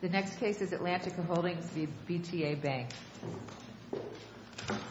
The next case is Atlantica Holdings v. BTA Bank. Atlantica Holdings v. BTA Bank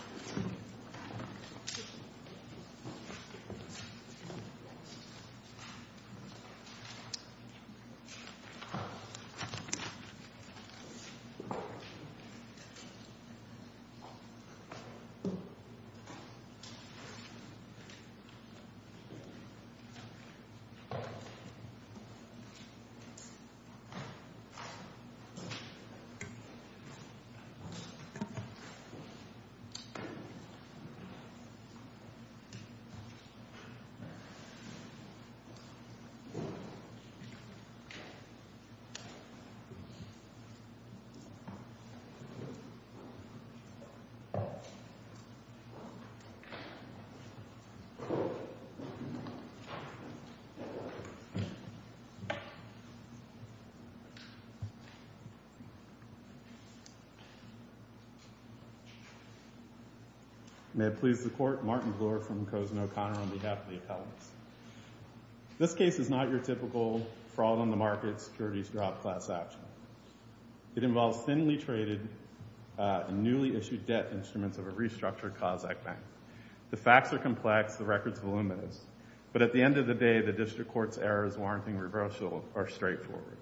May it please the Court, Martin Bloor from Cosno-Connor on behalf of the appellants. This case is not your typical fraud-on-the-market, securities-drop-class action. It involves thinly traded and newly issued debt instruments of a restructured Kazakh bank. The facts are complex, the records voluminous, but at the end of the day, the District Court's errors warranting reversal are straightforward.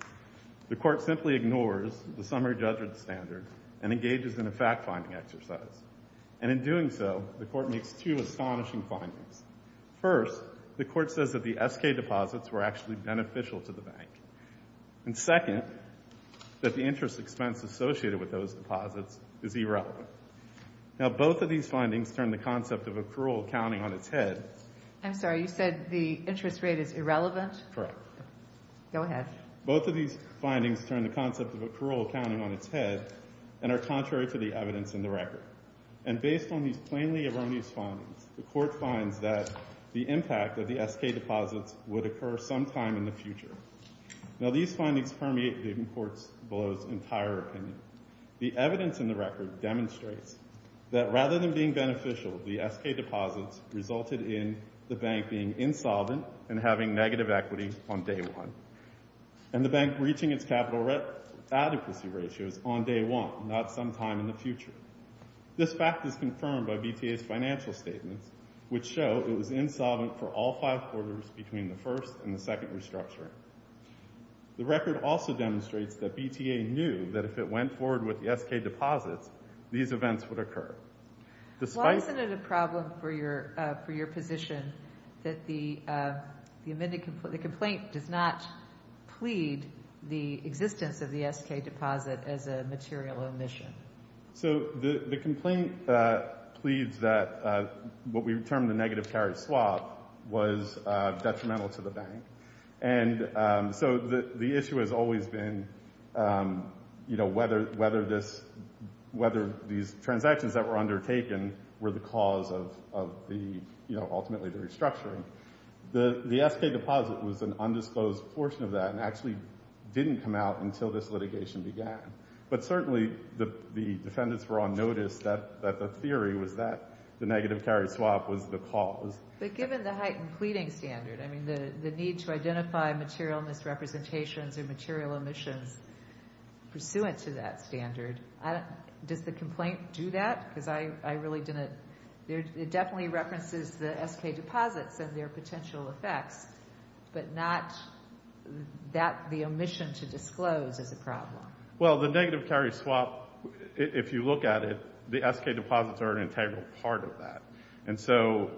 The Court simply ignores the summary judgment standard and engages in a fact-finding exercise. And in doing so, the Court makes two astonishing findings. First, the Court says that the SK deposits were actually beneficial to the bank. And second, that the interest expense associated with those deposits is irrelevant. Now both of these findings turn the concept of accrual counting on its head. I'm sorry, you said the interest rate is irrelevant? Correct. Go ahead. Both of these findings turn the concept of accrual counting on its head and are contrary to the evidence in the record. And based on these plainly erroneous findings, the Court finds that the impact of the SK deposits would occur sometime in the future. Now these findings permeate the Court's entire opinion. The evidence in the record demonstrates that rather than being beneficial, the SK deposits resulted in the bank being insolvent and having negative equity on day one. And the bank reaching its capital adequacy ratios on day one, not sometime in the future. This fact is confirmed by BTA's financial statements, which show it was insolvent for all five quarters between the first and the second restructuring. The record also demonstrates that BTA knew that if it went forward with the SK deposits, these events would occur. Why isn't it a problem for your position that the complaint does not plead the existence of the SK deposit as a material omission? So the complaint pleads that what we term the negative carry swap was detrimental to the bank. And so the issue has always been, you know, whether these transactions that were undertaken were the cause of the, you know, ultimately the restructuring. The SK deposit was an undisclosed portion of that and actually didn't come out until this litigation began. But certainly the defendants were on notice that the theory was that the negative carry swap was the cause. But given the heightened pleading standard, I mean, the need to identify material misrepresentations or material omissions pursuant to that standard, does the complaint do that? Because I really didn't, it definitely references the SK deposits and their potential effects, but not that the omission to disclose is a problem. Well, the negative carry swap, if you look at it, the SK deposits are an integral part of that. And so,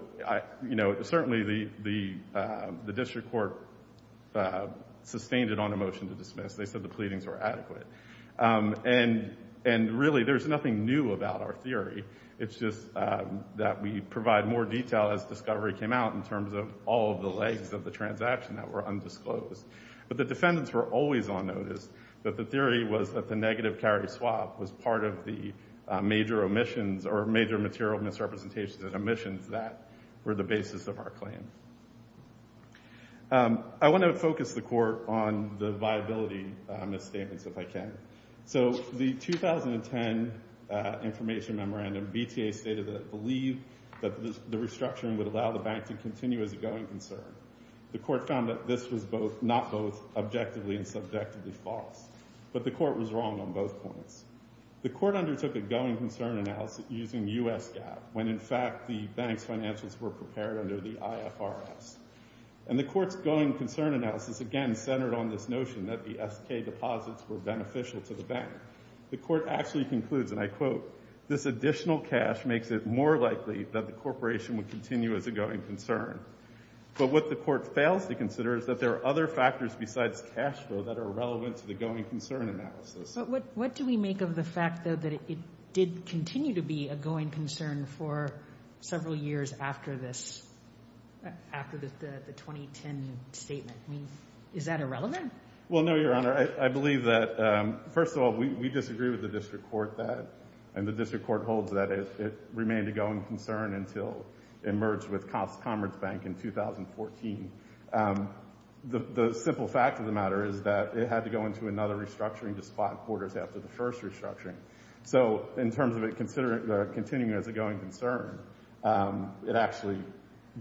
you know, certainly the district court sustained it on a motion to dismiss. They said the pleadings were adequate. And really, there's nothing new about our theory. It's just that we provide more detail as discovery came out in terms of all of the legs of the transaction that were undisclosed. But the defendants were always on notice that the theory was that the negative carry swap was part of the major omissions or major material misrepresentations and omissions that were the basis of our claim. I want to focus the court on the viability misstatements, if I can. So the 2010 information memorandum, BTA stated that it believed that the restructuring would allow the bank to continue as a going concern. The court found that this was not both objectively and subjectively false. But the court was wrong on both points. The court undertook a going concern analysis using U.S. GAAP, when, in fact, the bank's financials were prepared under the IFRS. And the court's going concern analysis, again, centered on this notion that the SK deposits were beneficial to the bank. The court actually concludes, and I quote, this additional cash makes it more likely that the corporation would continue as a going concern. But what the court fails to consider is that there are other factors besides cash flow that are relevant to the going concern analysis. What do we make of the fact, though, that it did continue to be a going concern for several years after this, after the 2010 statement? Is that irrelevant? Well, no, Your Honor. I believe that, first of all, we disagree with the district court that, and the district court holds that it remained a going concern until it merged with Commerzbank in 2014. The simple fact of the matter is that it had to go into another restructuring to spot borders after the first restructuring. So in terms of it continuing as a going concern, it actually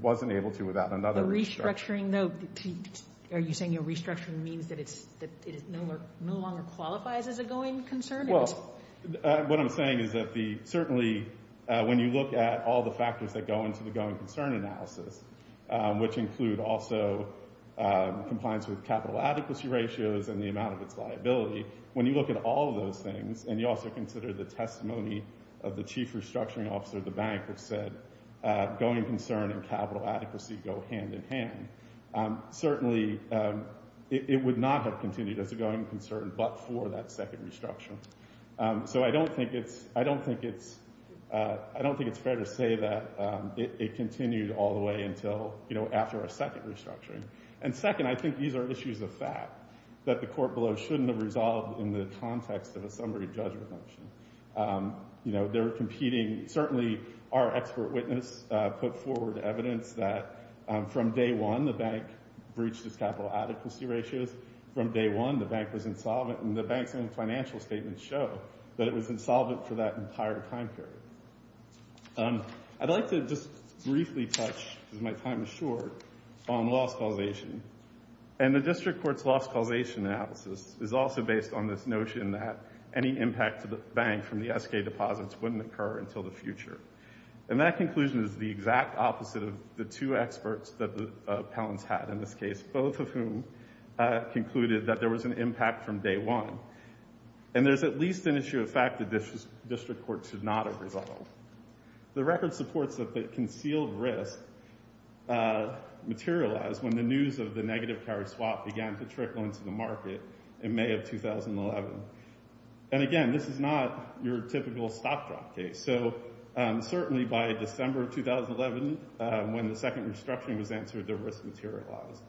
wasn't able to without another restructuring. The restructuring, though, are you saying a restructuring means that it no longer qualifies as a going concern? Well, what I'm saying is that the, certainly, when you look at all the factors that go into the going concern analysis, which include also compliance with capital adequacy ratios and the amount of its liability, when you look at all of those things and you also consider the testimony of the chief restructuring officer of the bank, which said going concern and capital adequacy go hand in hand, certainly, it would not have continued as a going concern but for that second restructuring. So I don't think it's fair to say that it continued all the way until, you know, after our second restructuring. And second, I think these are issues of fact that the court below shouldn't have resolved in the context of a summary judgment motion. You know, they're competing, certainly, our expert witness put forward evidence that from day one, the bank breached its capital adequacy ratios. From day one, the bank was insolvent and the bank's own financial statements show that it was insolvent for that entire time period. I'd like to just briefly touch, because my time is short, on loss causation. And the district court's loss causation analysis is also based on this notion that any impact to the bank from the S.K. deposits wouldn't occur until the future. And that conclusion is the exact opposite of the two experts that the appellants had in this case, both of whom concluded that there was an impact from day one. And there's at least an issue of fact that this district court should not have resolved. The record supports that the concealed risk materialized when the news of the negative carry swap began to trickle into the market in May of 2011. And again, this is not your typical stop drop case. So certainly by December of 2011, when the second restructuring was answered, the risk materialized.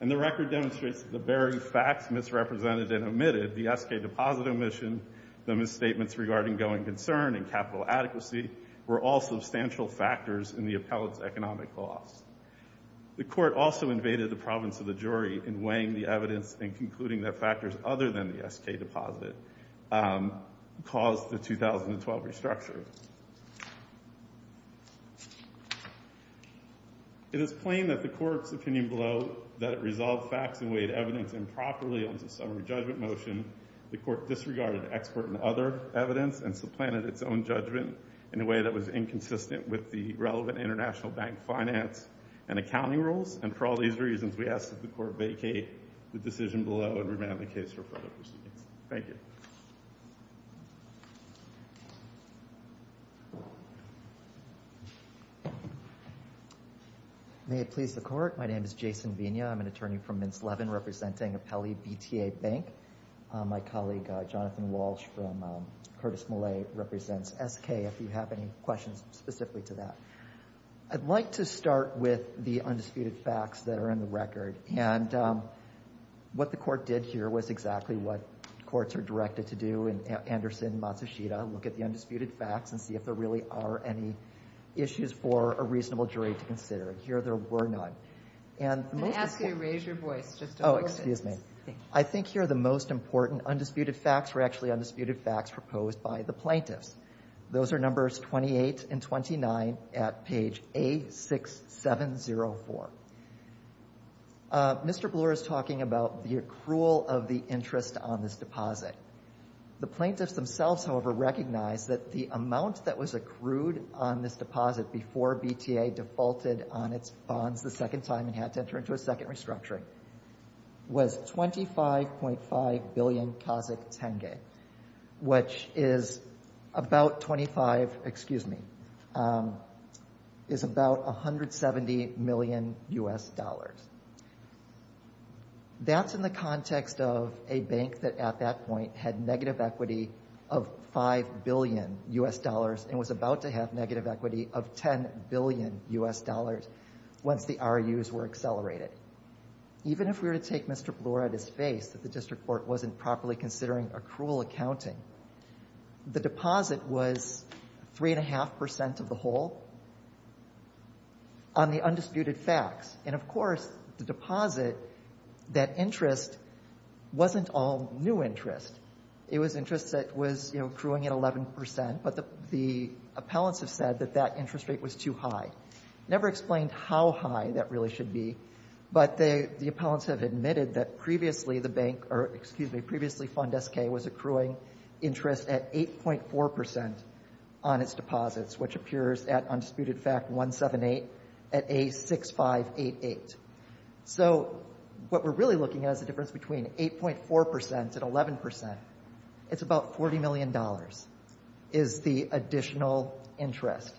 And the record demonstrates that the very facts misrepresented and omitted, the S.K. deposit omission, the misstatements regarding going concern and capital adequacy, were all substantial factors in the appellant's economic loss. The court also invaded the province of the jury in weighing the evidence and concluding that factors other than the S.K. deposit caused the 2012 restructure. It is plain that the court's opinion below that it resolved facts and weighed evidence improperly under summary judgment motion, the court disregarded expert and other evidence and supplanted its own judgment in a way that was inconsistent with the relevant international bank finance and accounting rules. And for all these reasons, we ask that the court vacate the decision below and remand the case for further proceedings. Thank you. May it please the court, my name is Jason Vigna, I'm an attorney from Mintz Levin representing Appellee BTA Bank. My colleague Jonathan Walsh from Curtis Millet represents S.K. if you have any questions specifically to that. I'd like to start with the undisputed facts that are in the record. And what the court did here was exactly what courts are directed to do in Anderson and Matsushita, look at the undisputed facts and see if there really are any issues for a reasonable jury to consider. And here there were none. And most of the courts Oh, excuse me. I think here the most important undisputed facts were actually undisputed facts proposed by the plaintiffs. Those are numbers 28 and 29 at page A6704. Mr. Bloor is talking about the accrual of the interest on this deposit. The plaintiffs themselves, however, recognize that the amount that was accrued on this deposit before BTA defaulted on its bonds the second time and had to enter into a second restructuring was 25.5 billion Kazak tenge, which is about 25, excuse me, 25.5 billion U.S. dollars. That's in the context of a bank that at that point had negative equity of 5 billion U.S. dollars and was about to have negative equity of 10 billion U.S. dollars once the RUs were accelerated. Even if we were to take Mr. Bloor at his face that the district court wasn't properly considering accrual accounting, the deposit was 3.5% of the whole. On the undisputed facts, and of course the deposit, that interest wasn't all new interest. It was interest that was accruing at 11%, but the appellants have said that that interest rate was too high. Never explained how high that really should be, but the appellants have admitted that previously the bank or, excuse me, previously Fund SK was accruing interest at 8.4% on its deposits, which appears at undisputed fact 178 at A6588. So what we're really looking at is the difference between 8.4% and 11%. It's about $40 million is the additional interest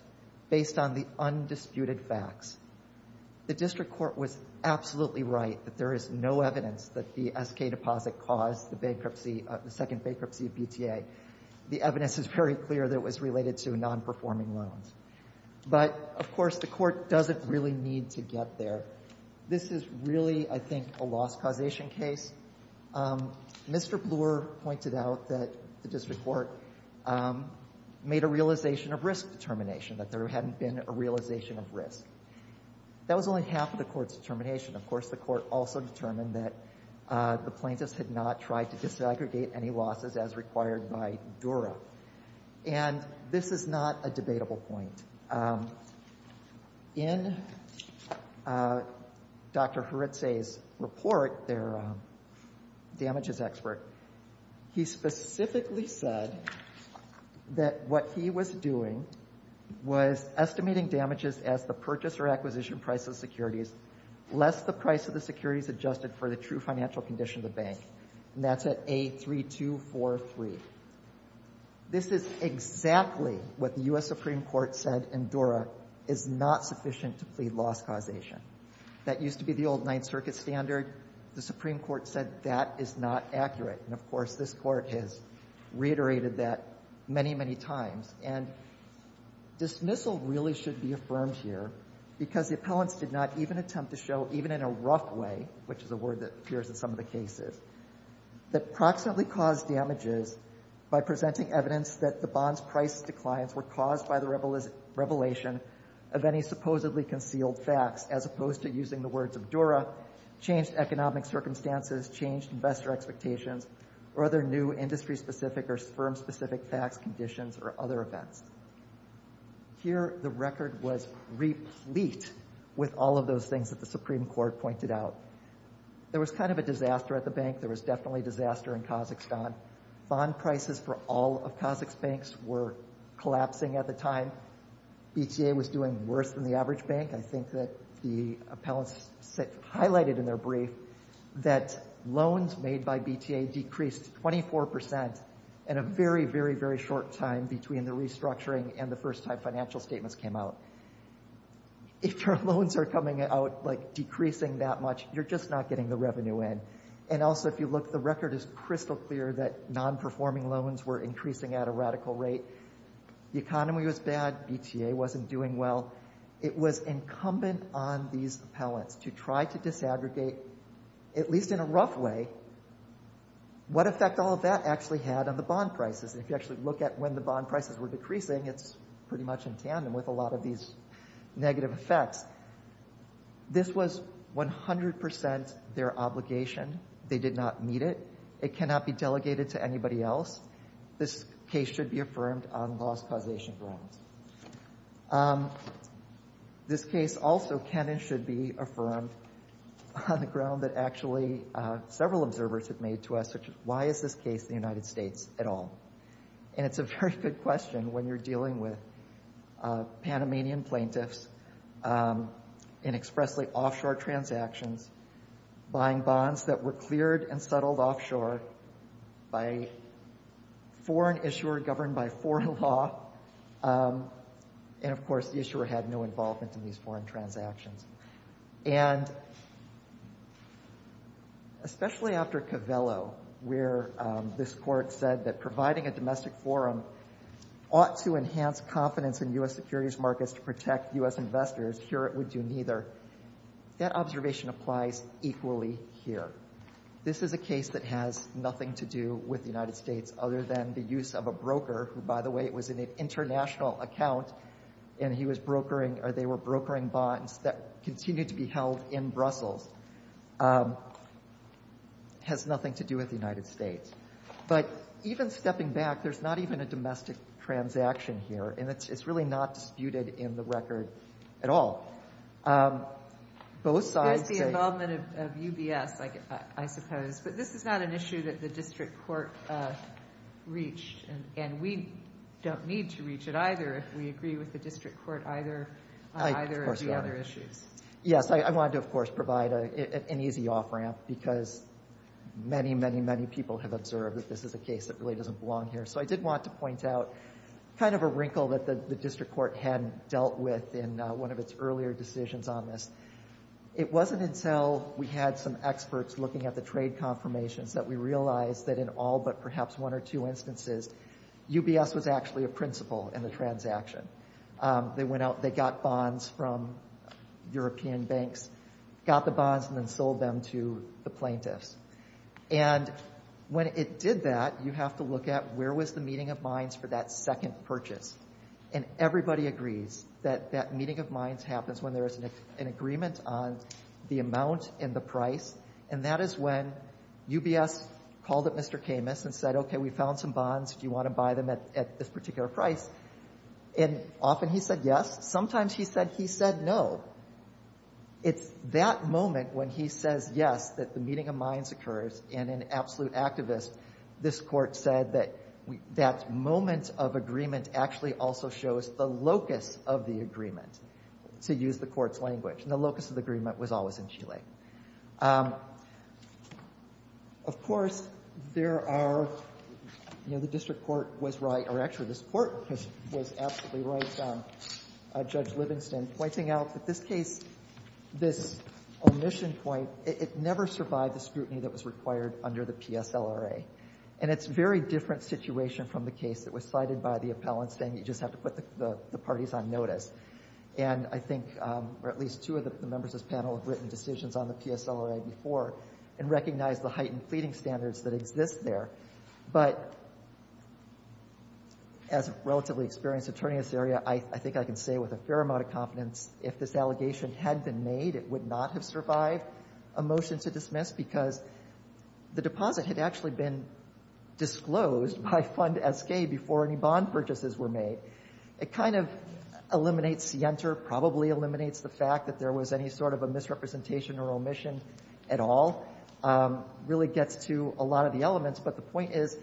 based on the undisputed facts. The district court was absolutely right that there is no evidence that the SK deposit caused the bankruptcy, the second bankruptcy of BTA. The evidence is very clear that it was related to non-performing loans. But, of course, the Court doesn't really need to get there. This is really, I think, a loss causation case. Mr. Bloor pointed out that the district court made a realization of risk determination, that there hadn't been a realization of risk. That was only half of the Court's determination. Of course, the Court also determined that the plaintiffs had not tried to disaggregate any losses as required by Dura. And this is not a debatable point. In Dr. Heretzay's report, their damages expert, he specifically said that what he was doing was estimating damages as the purchase or acquisition price of securities less the price of the securities adjusted for the true financial condition of the bank. And that's at A3243. This is exactly what the U.S. Supreme Court said in Dura is not sufficient to plead loss causation. That used to be the old Ninth Circuit standard. The Supreme Court said that is not accurate. And, of course, this Court has reiterated that many, many times. And dismissal really should be affirmed here, because the appellants did not even attempt to show, even in a rough way, which is a word that appears in some of the cases, that proximately caused damages by presenting evidence that the bond's price declines were caused by the revelation of any supposedly concealed facts, as opposed to using the words of Dura, changed economic circumstances, changed investor expectations, or other new industry-specific or firm-specific facts, conditions, or other events. Here, the record was replete with all of those things that the Supreme Court pointed out. There was kind of a disaster at the bank. There was definitely disaster in Kazakhstan. Bond prices for all of Kazakhstan's banks were collapsing at the time. BTA was doing worse than the average bank. I think that the appellants highlighted in their brief that loans made by BTA decreased 24% in a very, very, very short time between the restructuring and the first time financial statements came out. If your loans are coming out, like, decreasing that much, you're just not getting the revenue in. And also, if you look, the record is crystal clear that non-performing loans were increasing at a radical rate. The economy was bad. BTA wasn't doing well. It was incumbent on these appellants to try to disaggregate, at least in a rough way, what effect all of that actually had on the bond prices. And if you actually look at when the bond prices were decreasing, it's pretty much in tandem with a lot of these negative effects. This was 100% their obligation. They did not meet it. It cannot be delegated to anybody else. This case should be affirmed on loss causation grounds. This case also can and should be affirmed on the ground that actually several observers have made to us, such as, why is this case the United States at all? And it's a very good question when you're dealing with Panamanian plaintiffs in expressly offshore transactions, buying bonds that were cleared and settled offshore by a foreign issuer governed by foreign law. And of course, the issuer had no involvement in these foreign transactions. And especially after Covello, where this court said that providing a domestic forum ought to enhance confidence in U.S. securities markets to protect U.S. investors, here it would do neither. That observation applies equally here. This is a case that has nothing to do with the United States other than the use of a broker, who, by the way, was in an international account, and they were brokering bonds that continued to be held in Brussels. Has nothing to do with the United States. But even stepping back, there's not even a domestic transaction here. And it's really not disputed in the record at all. Both sides— There's the involvement of UBS, I suppose. But this is not an issue that the district court reached. And we don't need to reach it either if we agree with the district court on either of the other issues. Yes, I wanted to, of course, provide an easy off-ramp because many, many, many people have observed that this is a case that really doesn't belong here. So I did want to point out kind of a wrinkle that the district court had dealt with in one of its earlier decisions on this. It wasn't until we had some experts looking at the trade confirmations that we realized that in all but perhaps one or two instances, UBS was actually a principal in the transaction. They went out, they got bonds from European banks, got the bonds and then sold them to the plaintiffs. And when it did that, you have to look at where was the meeting of minds for that second purchase. And everybody agrees that that meeting of minds happens when there is an agreement on the amount and the price. And that is when UBS called up Mr. Camus and said, OK, we found some bonds. Do you want to buy them at this particular price? And often he said yes. Sometimes he said he said no. It's that moment when he says yes, that the meeting of minds occurs. And an absolute activist, this court said that that moment of agreement actually also shows the locus of the agreement, to use the court's language. And the locus of the agreement was always in Chile. Now, of course, there are, you know, the district court was right, or actually this court was absolutely right, Judge Livingston, pointing out that this case, this omission point, it never survived the scrutiny that was required under the PSLRA. And it's a very different situation from the case that was cited by the appellant saying you just have to put the parties on notice. And I think at least two of the members of this panel have written decisions on the PSLRA before and recognize the heightened pleading standards that exist there. But as a relatively experienced attorney in this area, I think I can say with a fair amount of confidence, if this allegation had been made, it would not have survived a motion to dismiss because the deposit had actually been disclosed by Fund SK before any bond purchases were made. It kind of eliminates the enter, probably eliminates the fact that there was any sort of a misrepresentation or omission at all, really gets to a lot of the elements. But the point is,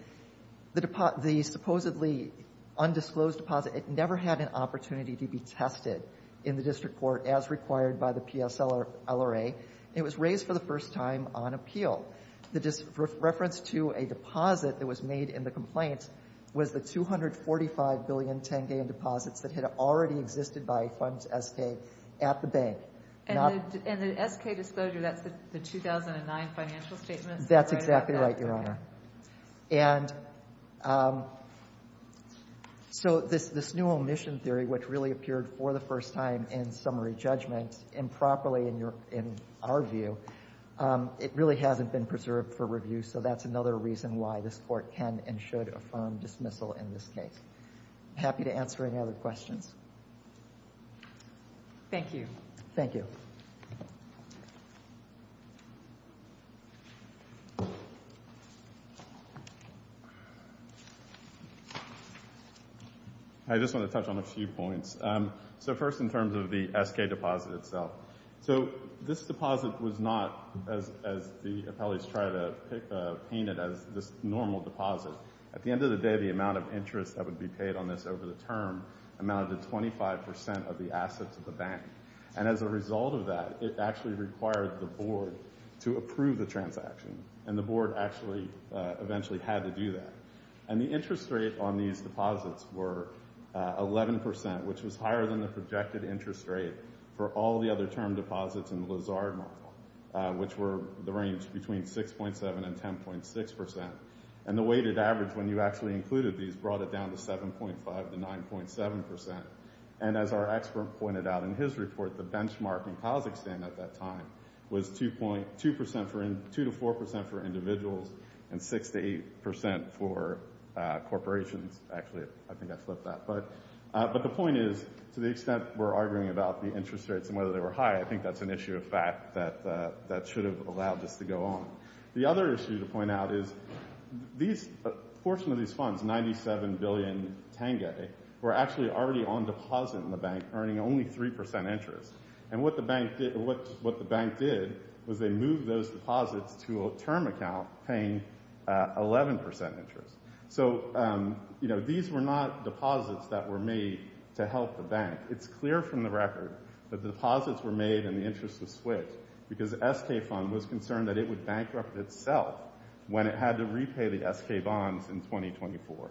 the supposedly undisclosed deposit, it never had an opportunity to be tested in the district court as required by the PSLRA, and it was raised for the first time on appeal. The reference to a deposit that was made in the complaint was the $245 billion 10-gallon deposits that had already existed by Fund SK at the bank. And the SK disclosure, that's the 2009 financial statement? That's exactly right, Your Honor. And so this new omission theory, which really appeared for the first time in summary judgments improperly in our view, it really hasn't been preserved for review. So that's another reason why this Court can and should affirm dismissal in this case. Happy to answer any other questions. Thank you. Thank you. I just want to touch on a few points. So first, in terms of the SK deposit itself. So this deposit was not, as the appellees try to paint it as, this normal deposit. At the end of the day, the amount of interest that would be paid on this over the term amounted to 25 percent of the assets of the bank. And as a result of that, it actually required the board to approve the transaction. And the board actually eventually had to do that. And the interest rate on these deposits were 11 percent, which was higher than the projected interest rate for all the other term deposits in the Lazard model, which were the range between 6.7 and 10.6 percent. And the weighted average, when you actually included these, brought it down to 7.5 to 9.7 percent. And as our expert pointed out in his report, the benchmark in Kazakhstan at that time was 2 to 4 percent for individuals and 6 to 8 percent for corporations. Actually, I think I flipped that. But the point is, to the extent we're arguing about the interest rates and whether they were high, I think that's an issue of fact that should have allowed this to go on. The other issue to point out is a portion of these funds, 97 billion tenge, were actually already on deposit in the bank, earning only 3 percent interest. And what the bank did was they moved those deposits to a term account paying 11 percent interest. So, you know, these were not deposits that were made to help the bank. And it's clear from the record that the deposits were made in the interest of SWIFT because the SK fund was concerned that it would bankrupt itself when it had to repay the SK bonds in 2024.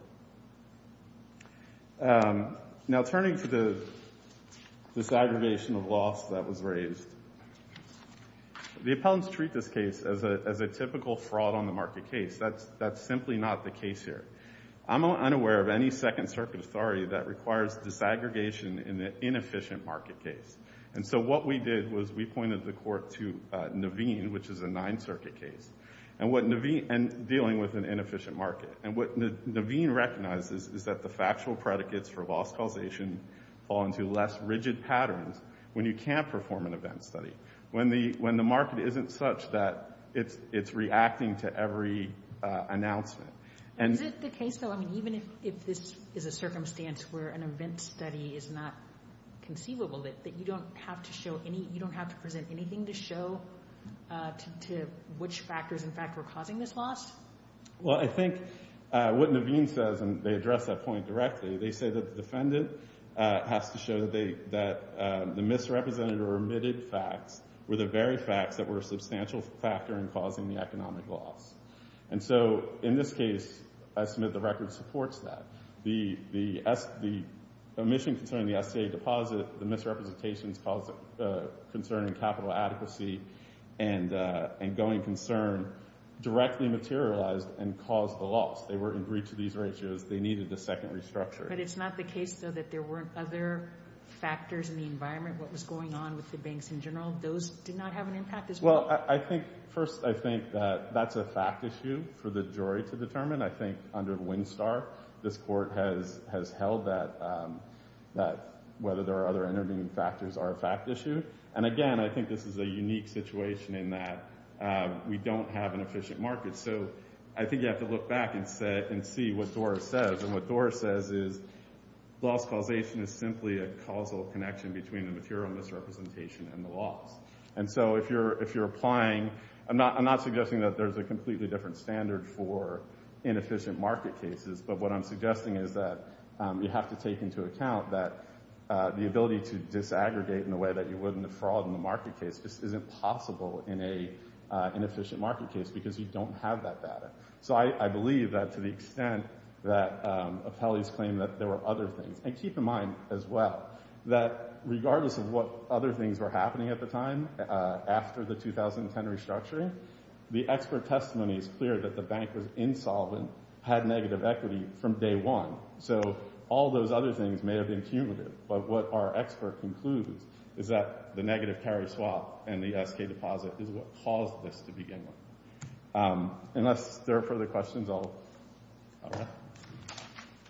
Now, turning to the disaggregation of loss that was raised, the appellants treat this case as a typical fraud on the market case. That's simply not the case here. I'm unaware of any Second Circuit authority that requires disaggregation in an inefficient market case. And so what we did was we pointed the court to Naveen, which is a Ninth Circuit case, and dealing with an inefficient market. And what Naveen recognizes is that the factual predicates for loss causation fall into less rigid patterns when you can't perform an event study, when the market isn't such that it's reacting to every announcement. And is it the case, though, I mean, even if this is a circumstance where an event study is not conceivable, that you don't have to show any, you don't have to present anything to show to which factors, in fact, were causing this loss? Well, I think what Naveen says, and they address that point directly, they say that the defendant has to show that they, that the misrepresented or omitted facts were the very facts that were a substantial factor in causing the economic loss. And so in this case, I submit the record supports that. The omission concerning the SCA deposit, the misrepresentations concerning capital adequacy and going concern directly materialized and caused the loss. They were agreed to these ratios. They needed a second restructure. But it's not the case, though, that there weren't other factors in the environment, what was going on with the banks in general? Those did not have an impact as well? Well, I think, first, I think that that's a fact issue for the jury to determine. I think under Winstar, this court has held that whether there are other intervening factors are a fact issue. And again, I think this is a unique situation in that we don't have an efficient market. So I think you have to look back and see what Dora says. And what Dora says is loss causation is simply a causal connection between the material misrepresentation and the loss. And so if you're if you're applying, I'm not I'm not suggesting that there's a completely different standard for inefficient market cases. But what I'm suggesting is that you have to take into account that the ability to disaggregate in a way that you wouldn't have fraud in the market case just isn't possible in a inefficient market case because you don't have that data. So I believe that to the extent that appellees claim that there were other things. And keep in mind, as well, that regardless of what other things were happening at the time after the 2010 restructuring, the expert testimony is clear that the bank was insolvent, had negative equity from day one. So all those other things may have been cumulative. But what our expert concludes is that the negative carry swap and the S.K. deposit is what caused this to begin with. Unless there are further questions, I'll.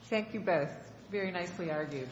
Thank you both. Very nicely argued.